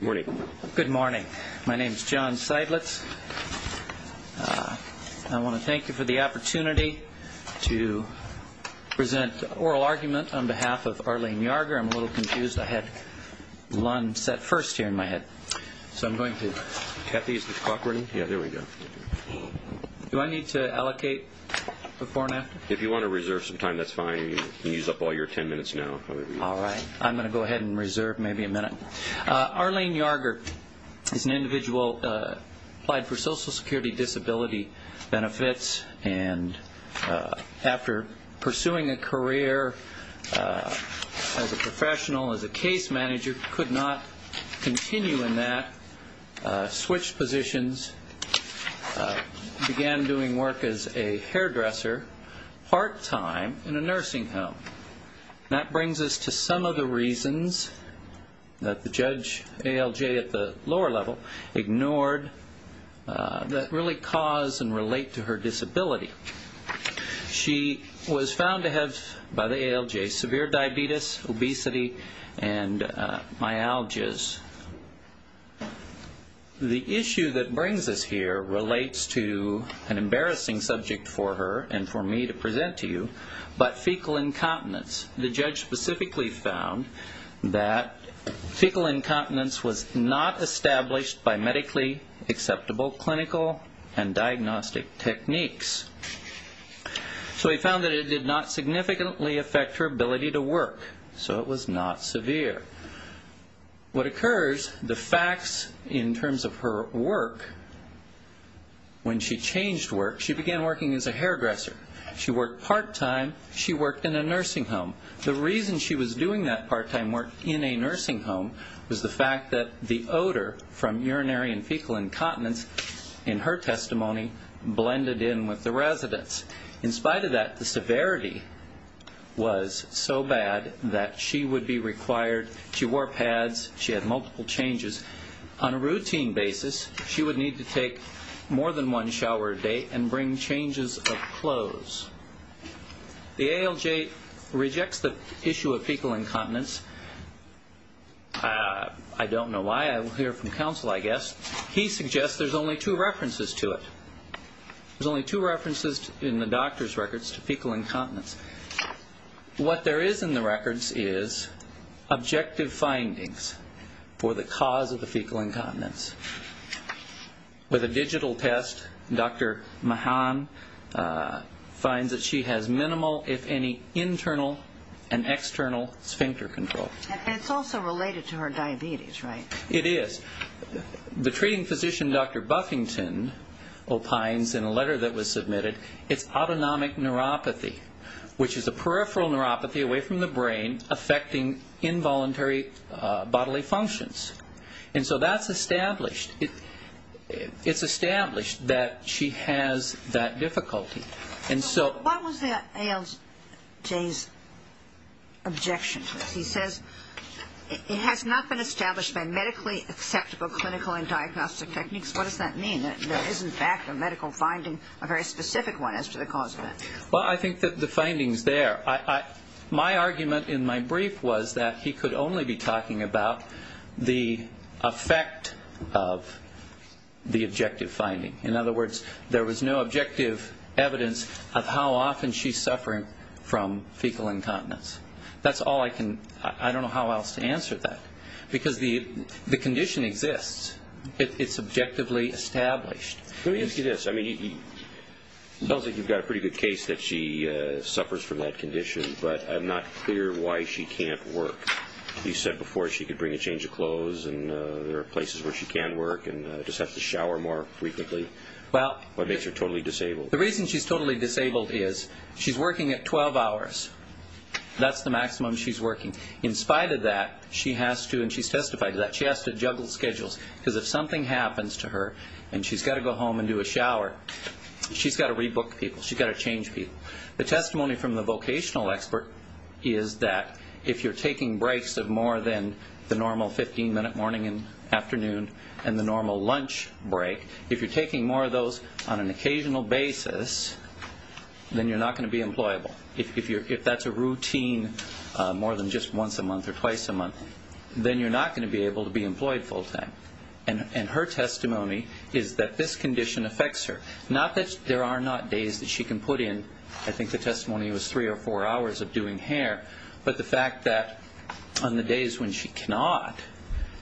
Morning. Good morning. My name is John Seidlitz. I want to thank you for the opportunity to present oral argument on behalf of Arlene Yarger. I'm a little confused. I had Lund set first here in my head. So I'm going to... Kathy, is the clock running? Yeah, there we go. Do I need to allocate before and after? If you want to reserve some time, that's fine. You can use up all your ten minutes now. All right. I'm going to go ahead and reserve maybe a minute. Arlene Yarger is an individual who applied for Social Security disability benefits and after pursuing a career as a professional, as a case manager, could not continue in that, switched positions, began doing work as a hairdresser part-time in a nursing home. That brings us to some of the reasons that the judge ALJ at the lower level ignored that really cause and relate to her disability. She was found to have, by the ALJ, severe diabetes, obesity, and myalgias. The issue that brings us here relates to an embarrassing subject for her and for me to present to you, but fecal incontinence. The judge specifically found that fecal incontinence was not established by medically acceptable clinical and diagnostic techniques. So he found that it did not significantly affect her ability to work, so it was not severe. What occurs, the facts in terms of her work, when she changed work, she began working as a hairdresser. She worked part-time. She worked in a nursing home. The reason she was doing that part-time work in a nursing home was the fact that the odor from urinary and fecal incontinence, in her testimony, blended in with the residents. In spite of that, the severity was so bad that she would be required, she wore pads, she had multiple changes. On a routine basis, she would need to take more than one shower a day and bring changes of clothes. The ALJ rejects the issue of fecal incontinence. I don't know why. I will hear from counsel, I guess. He suggests there's only two references to it. There's only two references in the doctor's records to fecal incontinence. What there is in the records is objective findings for the cause of the fecal incontinence. With a digital test, Dr. Mahan finds that she has minimal, if any, internal and external sphincter control. And it's also related to her diabetes, right? It is. The treating physician, Dr. Buffington, opines in a letter that was submitted, it's autonomic neuropathy, which is a peripheral neuropathy away from the brain affecting involuntary bodily functions. And so that's established. It's established that she has that difficulty. What was the ALJ's objection to this? He says it has not been established by medically acceptable clinical and diagnostic techniques. What does that mean? There is, in fact, a medical finding, a very specific one, as to the cause of that. Well, I think that the finding's there. My argument in my brief was that he could only be talking about the effect of the objective finding. In other words, there was no objective evidence of how often she's suffering from fecal incontinence. That's all I can – I don't know how else to answer that. Because the condition exists. It's objectively established. Let me ask you this. I mean, it sounds like you've got a pretty good case that she suffers from that condition, but I'm not clear why she can't work. You said before she could bring a change of clothes and there are places where she can work and just have to shower more frequently. What makes her totally disabled? The reason she's totally disabled is she's working at 12 hours. That's the maximum she's working. In spite of that, she has to – and she's testified to that – she has to juggle schedules because if something happens to her and she's got to go home and do a shower, she's got to rebook people. She's got to change people. The testimony from the vocational expert is that if you're taking breaks of more than the normal 15-minute morning and afternoon and the normal lunch break, if you're taking more of those on an occasional basis, then you're not going to be employable. If that's a routine more than just once a month or twice a month, then you're not going to be able to be employed full time. And her testimony is that this condition affects her. Not that there are not days that she can put in – I think the testimony was three or four hours of doing hair – but the fact that on the days when she cannot,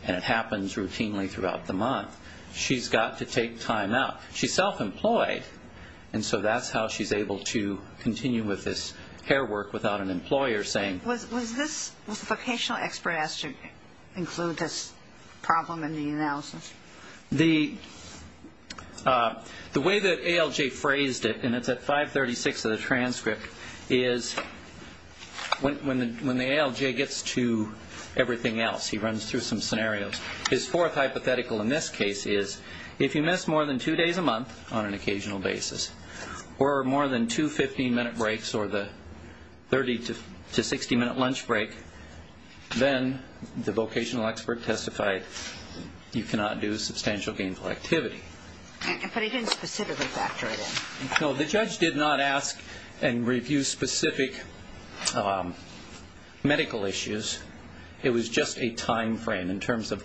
and it happens routinely throughout the month, she's got to take time out. She's self-employed, and so that's how she's able to continue with this hair work without an employer saying – Was this – was the vocational expert asked to include this problem in the analysis? The way that ALJ phrased it, and it's at 536 of the transcript, is when the ALJ gets to everything else, he runs through some scenarios. His fourth hypothetical in this case is if you miss more than two days a month on an occasional basis or more than two 15-minute breaks or the 30- to 60-minute lunch break, then the vocational expert testified you cannot do substantial gainful activity. But he didn't specifically factor it in. No, the judge did not ask and review specific medical issues. It was just a timeframe in terms of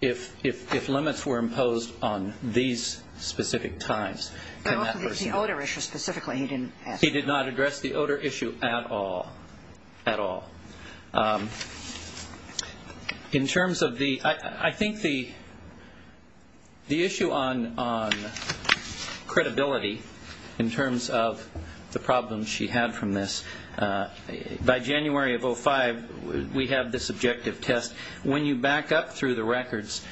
if limits were imposed on these specific times. But also the odor issue specifically he didn't ask. He did not address the odor issue at all, at all. In terms of the – I think the issue on credibility in terms of the problems she had from this, by January of 05 we have this objective test. When you back up through the records,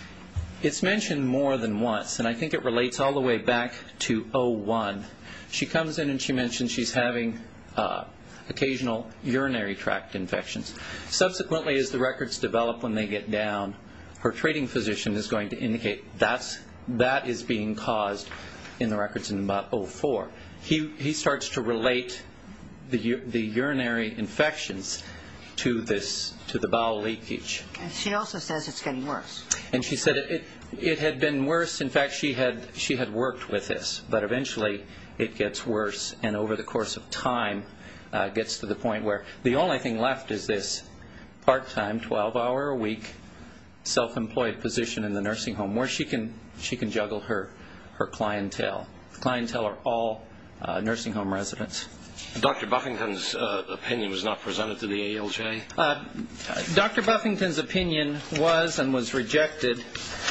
it's mentioned more than once, and I think it relates all the way back to 01. She comes in and she mentions she's having occasional urinary tract infections. Subsequently, as the records develop when they get down, her treating physician is going to indicate that is being caused in the records in about 04. He starts to relate the urinary infections to this, to the bowel leakage. And she also says it's getting worse. And she said it had been worse. In fact, she had worked with this, but eventually it gets worse, and over the course of time gets to the point where the only thing left is this part-time, 12-hour-a-week self-employed position in the nursing home where she can juggle her clientele. The clientele are all nursing home residents. Dr. Buffington's opinion was not presented to the ALJ? Dr. Buffington's opinion was and was rejected.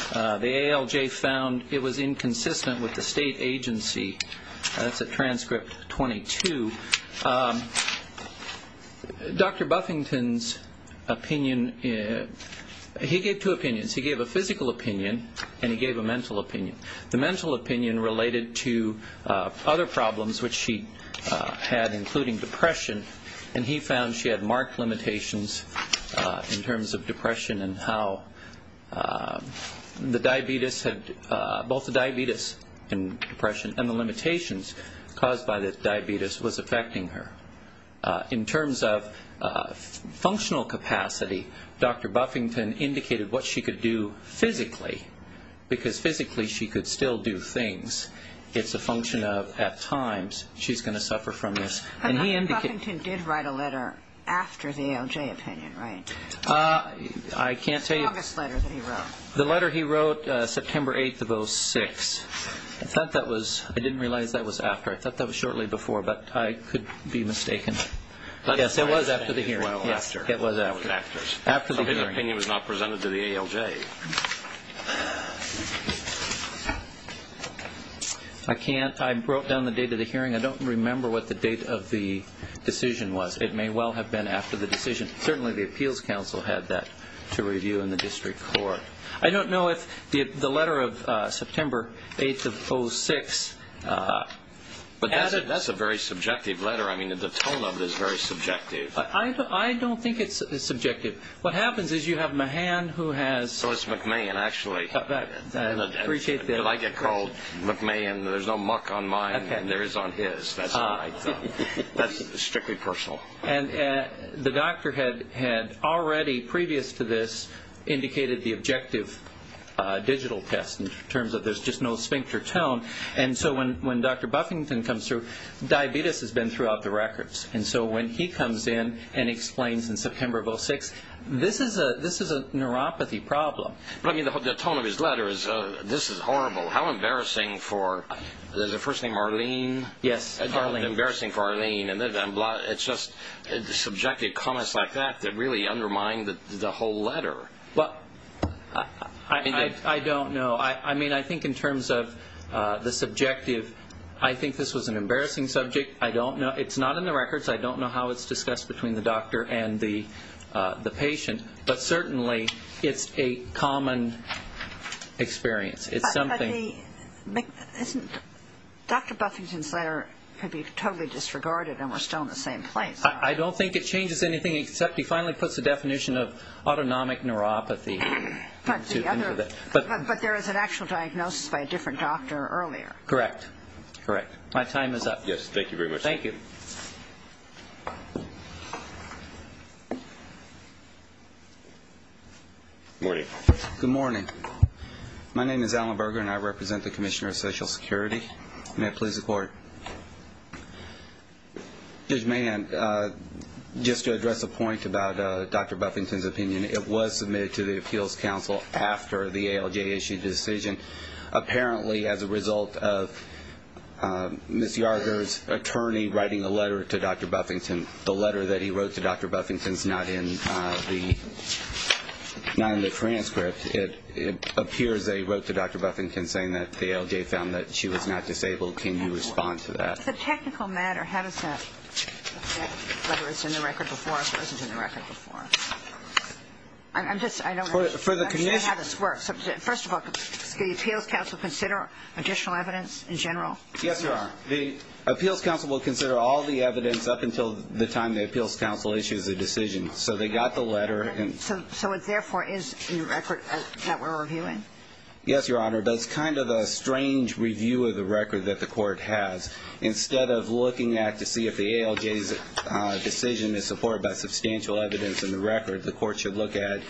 The ALJ found it was inconsistent with the state agency. That's at transcript 22. Dr. Buffington's opinion, he gave two opinions. He gave a physical opinion and he gave a mental opinion. The mental opinion related to other problems which she had, including depression, and he found she had marked limitations in terms of depression and how both the diabetes and depression and the limitations caused by the diabetes was affecting her. In terms of functional capacity, Dr. Buffington indicated what she could do physically because physically she could still do things. It's a function of at times she's going to suffer from this. Dr. Buffington did write a letter after the ALJ opinion, right? I can't tell you. The August letter that he wrote. The letter he wrote September 8 of 2006. I thought that was, I didn't realize that was after. I thought that was shortly before, but I could be mistaken. Yes, it was after the hearing. It was after. So his opinion was not presented to the ALJ. I can't. I wrote down the date of the hearing. I don't remember what the date of the decision was. It may well have been after the decision. Certainly the appeals council had that to review in the district court. I don't know if the letter of September 8 of 2006 added. But that's a very subjective letter. I mean the tone of it is very subjective. I don't think it's subjective. What happens is you have Mahan who has. So it's McMahon actually. I appreciate that. I get called McMahon. There's no muck on mine, and there is on his. That's strictly personal. And the doctor had already, previous to this, indicated the objective digital test in terms of there's just no sphincter tone. And so when Dr. Buffington comes through, diabetes has been throughout the records. And so when he comes in and explains in September of 2006, this is a neuropathy problem. But, I mean, the tone of his letter is this is horrible. How embarrassing for the first name Arlene. Yes, Arlene. Embarrassing for Arlene. It's just subjective comments like that that really undermine the whole letter. Well, I don't know. I mean I think in terms of the subjective, I think this was an embarrassing subject. I don't know. It's not in the records. I don't know how it's discussed between the doctor and the patient. But certainly it's a common experience. It's something. But isn't Dr. Buffington's letter could be totally disregarded and we're still in the same place. I don't think it changes anything except he finally puts the definition of autonomic neuropathy. But there is an actual diagnosis by a different doctor earlier. Correct. Correct. My time is up. Yes, thank you very much. Thank you. Good morning. Good morning. My name is Alan Berger and I represent the Commissioner of Social Security. May I please report? Judge Mann, just to address a point about Dr. Buffington's opinion, it was submitted to the Appeals Council after the ALJ issued the decision. Apparently as a result of Ms. Yarger's attorney writing a letter to Dr. Buffington, the letter that he wrote to Dr. Buffington is not in the transcript. It appears they wrote to Dr. Buffington saying that the ALJ found that she was not disabled. Can you respond to that? It's a technical matter. How does that affect whether it's in the record before or if it wasn't in the record before? I'm just, I don't know how this works. First of all, does the Appeals Council consider additional evidence in general? Yes, they are. The Appeals Council will consider all the evidence up until the time the Appeals Council issues a decision. So they got the letter. So it therefore is in the record that we're reviewing? Yes, Your Honor. But it's kind of a strange review of the record that the court has. Instead of looking at to see if the ALJ's decision is supported by substantial evidence in the record, the court should look at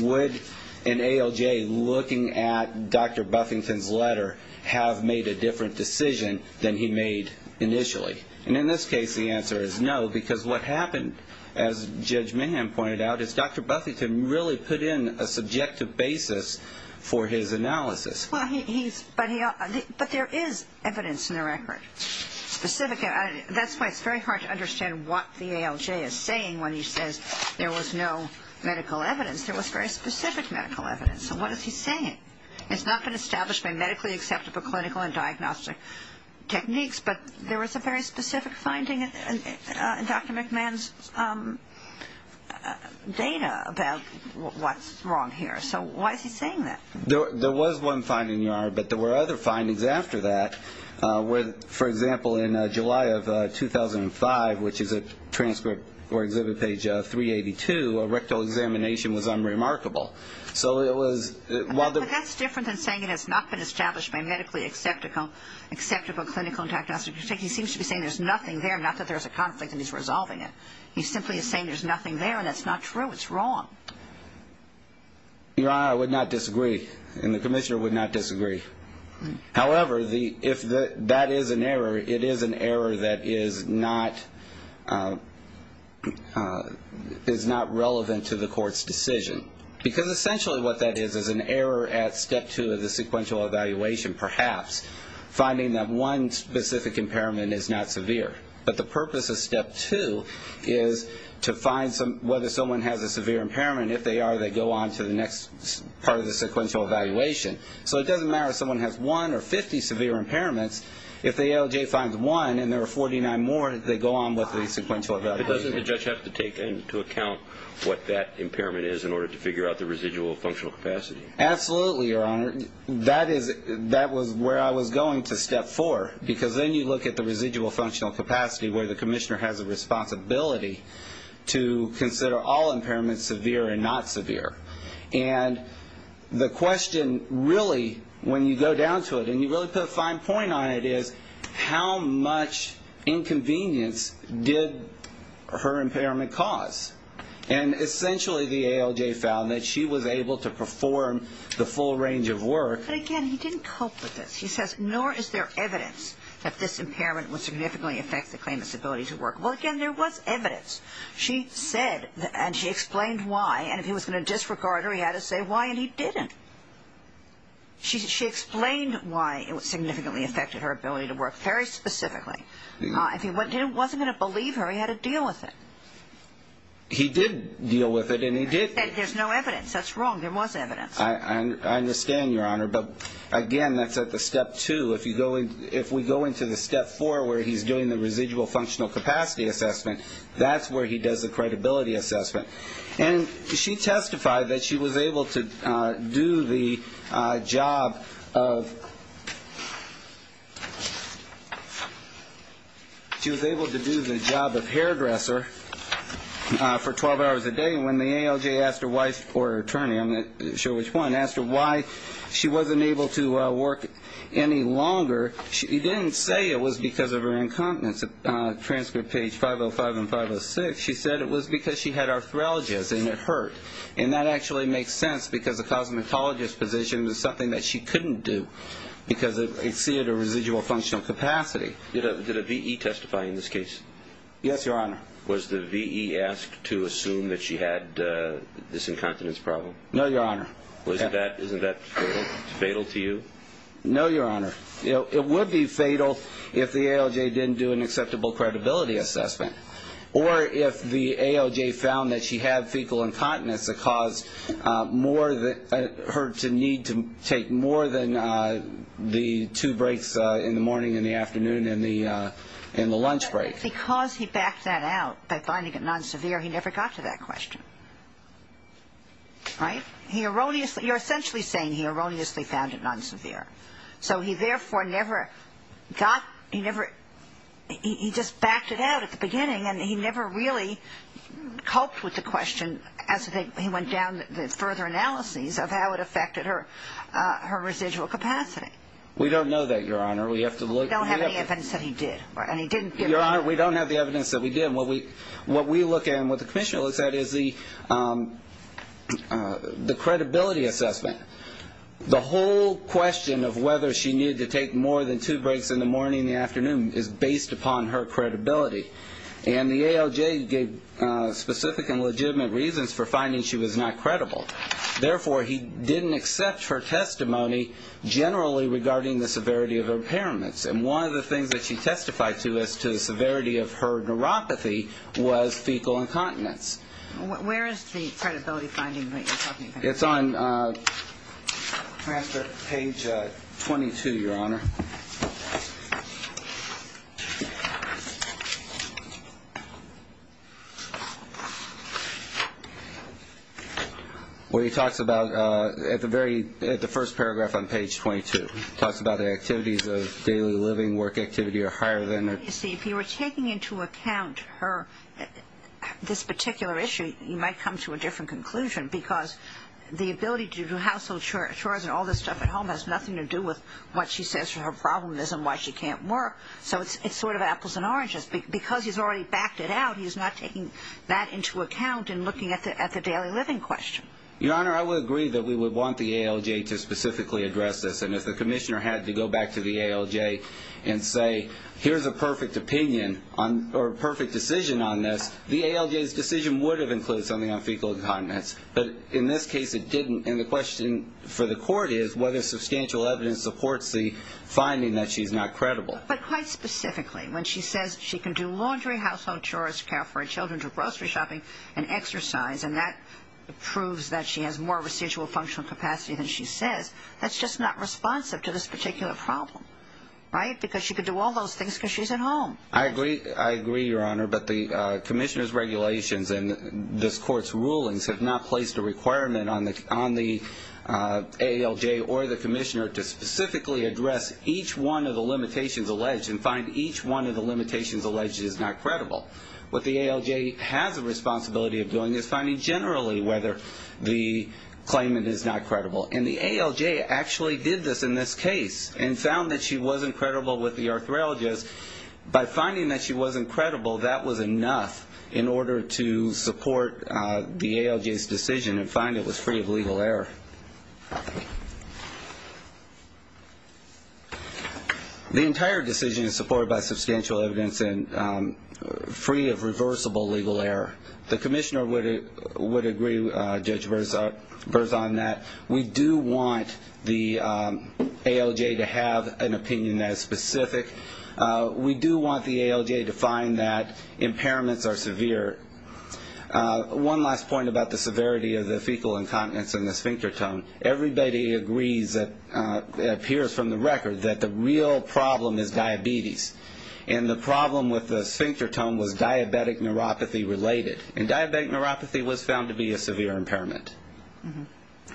would an ALJ looking at Dr. Buffington's letter have made a different decision than he made initially? And in this case, the answer is no because what happened, as Judge Mahan pointed out, is Dr. Buffington really put in a subjective basis for his analysis. But there is evidence in the record, specific evidence. That's why it's very hard to understand what the ALJ is saying when he says there was no medical evidence. There was very specific medical evidence. So what is he saying? It's not been established by medically acceptable clinical and diagnostic techniques, but there was a very specific finding in Dr. McMahon's data about what's wrong here. So why is he saying that? There was one finding, Your Honor, but there were other findings after that. For example, in July of 2005, which is at transcript or exhibit page 382, a rectal examination was unremarkable. But that's different than saying it has not been established by medically acceptable clinical and diagnostic techniques. He seems to be saying there's nothing there, not that there's a conflict and he's resolving it. He simply is saying there's nothing there, and that's not true. It's wrong. Your Honor, I would not disagree, and the commissioner would not disagree. However, if that is an error, it is an error that is not relevant to the court's decision because essentially what that is is an error at step two of the sequential evaluation, perhaps, finding that one specific impairment is not severe. But the purpose of step two is to find whether someone has a severe impairment. If they are, they go on to the next part of the sequential evaluation. So it doesn't matter if someone has one or 50 severe impairments. If the ALJ finds one and there are 49 more, they go on with the sequential evaluation. But doesn't the judge have to take into account what that impairment is in order to figure out the residual functional capacity? Absolutely, Your Honor. That was where I was going to step four because then you look at the residual functional capacity where the commissioner has a responsibility to consider all impairments severe and not severe. And the question really, when you go down to it, and you really put a fine point on it, is how much inconvenience did her impairment cause? And essentially the ALJ found that she was able to perform the full range of work. But again, he didn't cope with this. He says, nor is there evidence that this impairment would significantly affect the claimant's ability to work. Well, again, there was evidence. She said, and she explained why, and if he was going to disregard her, he had to say why, and he didn't. She explained why it significantly affected her ability to work very specifically. If he wasn't going to believe her, he had to deal with it. He did deal with it, and he did. There's no evidence. That's wrong. There was evidence. I understand, Your Honor. But, again, that's at the step two. If we go into the step four where he's doing the residual functional capacity assessment, that's where he does the credibility assessment. And she testified that she was able to do the job of hairdresser for 12 hours a day. And when the ALJ asked her why, or her attorney, I'm not sure which one, asked her why she wasn't able to work any longer, he didn't say it was because of her incompetence. In the transcript page 505 and 506, she said it was because she had arthralgias and it hurt. And that actually makes sense because the cosmetologist's position was something that she couldn't do because it exceeded her residual functional capacity. Did a V.E. testify in this case? Yes, Your Honor. Was the V.E. asked to assume that she had this incompetence problem? No, Your Honor. Isn't that fatal to you? No, Your Honor. It would be fatal if the ALJ didn't do an acceptable credibility assessment or if the ALJ found that she had fecal incontinence that caused her to need to take more than the two breaks in the morning and the afternoon and the lunch break. Because he backed that out by finding it non-severe, he never got to that question. Right? You're essentially saying he erroneously found it non-severe. So he therefore never got, he never, he just backed it out at the beginning and he never really coped with the question as he went down further analyses of how it affected her residual capacity. We don't know that, Your Honor. We don't have any evidence that he did. Your Honor, we don't have the evidence that we did. What we look at and what the commissioner looks at is the credibility assessment. The whole question of whether she needed to take more than two breaks in the morning and the afternoon is based upon her credibility. And the ALJ gave specific and legitimate reasons for finding she was not credible. Therefore, he didn't accept her testimony generally regarding the severity of her impairments. And one of the things that she testified to as to the severity of her neuropathy was fecal incontinence. Where is the credibility finding that you're talking about? It's on page 22, Your Honor. Where he talks about, at the first paragraph on page 22, he talks about the activities of daily living, work activity are higher than their If you were taking into account her, this particular issue, you might come to a different conclusion because the ability to do household chores and all this stuff at home has nothing to do with what she says her problem is and why she can't work. So it's sort of apples and oranges. Because he's already backed it out, he's not taking that into account and looking at the daily living question. Your Honor, I would agree that we would want the ALJ to specifically address this. And if the commissioner had to go back to the ALJ and say, here's a perfect opinion or a perfect decision on this, the ALJ's decision would have included something on fecal incontinence. But in this case, it didn't. And the question for the court is whether substantial evidence supports the finding that she's not credible. But quite specifically, when she says she can do laundry, household chores, care for her children, do grocery shopping, and exercise, and that proves that she has more residual functional capacity than she says, that's just not responsive to this particular problem, right? Because she could do all those things because she's at home. I agree, Your Honor, but the commissioner's regulations and this court's rulings have not placed a requirement on the ALJ or the commissioner to specifically address each one of the limitations alleged and find each one of the limitations alleged is not credible. What the ALJ has a responsibility of doing is finding generally whether the claimant is not credible. And the ALJ actually did this in this case and found that she wasn't credible with the arthralgist because by finding that she wasn't credible, that was enough in order to support the ALJ's decision and find it was free of legal error. The entire decision is supported by substantial evidence and free of reversible legal error. The commissioner would agree, Judge Berzon, that we do want the ALJ to have an opinion that is specific. We do want the ALJ to find that impairments are severe. One last point about the severity of the fecal incontinence and the sphincter tone. Everybody agrees, it appears from the record, that the real problem is diabetes. And the problem with the sphincter tone was diabetic neuropathy related. And diabetic neuropathy was found to be a severe impairment.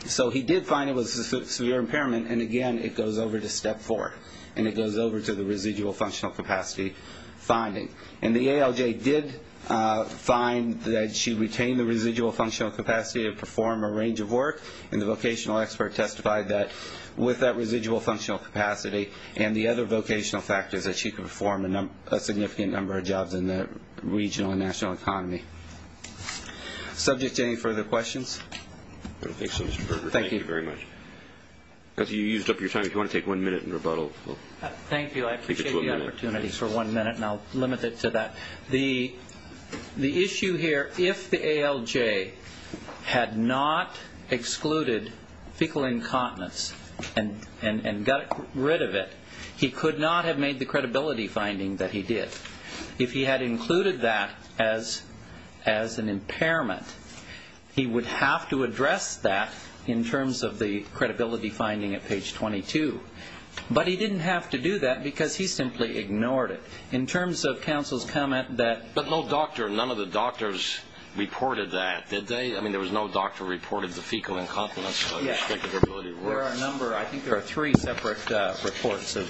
So he did find it was a severe impairment and, again, it goes over to step four. And it goes over to the residual functional capacity finding. And the ALJ did find that she retained the residual functional capacity to perform a range of work. And the vocational expert testified that with that residual functional capacity and the other vocational factors that she could perform a significant number of jobs in the regional and national economy. Subject to any further questions? I don't think so, Mr. Berger. Thank you very much. You used up your time. If you want to take one minute and rebuttal. Thank you. I appreciate the opportunity for one minute, and I'll limit it to that. The issue here, if the ALJ had not excluded fecal incontinence and got rid of it, he could not have made the credibility finding that he did. If he had included that as an impairment, he would have to address that in terms of the credibility finding at page 22. But he didn't have to do that because he simply ignored it. In terms of counsel's comment that no doctor, none of the doctors reported that, did they? I mean, there was no doctor reported the fecal incontinence. There are a number. I think there are three separate reports of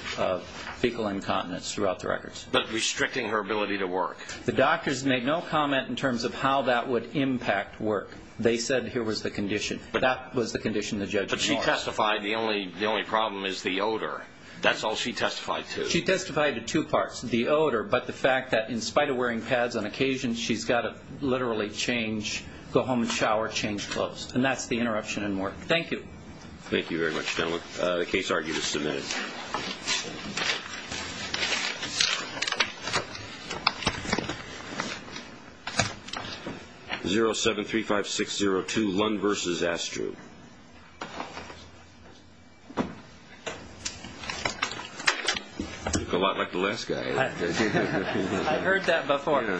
fecal incontinence throughout the records. But restricting her ability to work. The doctors made no comment in terms of how that would impact work. They said here was the condition. That was the condition the judge ignored. But she testified the only problem is the odor. That's all she testified to. She testified to two parts, the odor, but the fact that in spite of wearing pads on occasion, she's got to literally change, go home and shower, change clothes. And that's the interruption in work. Thank you. Thank you very much, gentlemen. The case argue is submitted. 0735602, Lund versus Astru. You look a lot like the last guy. I heard that before.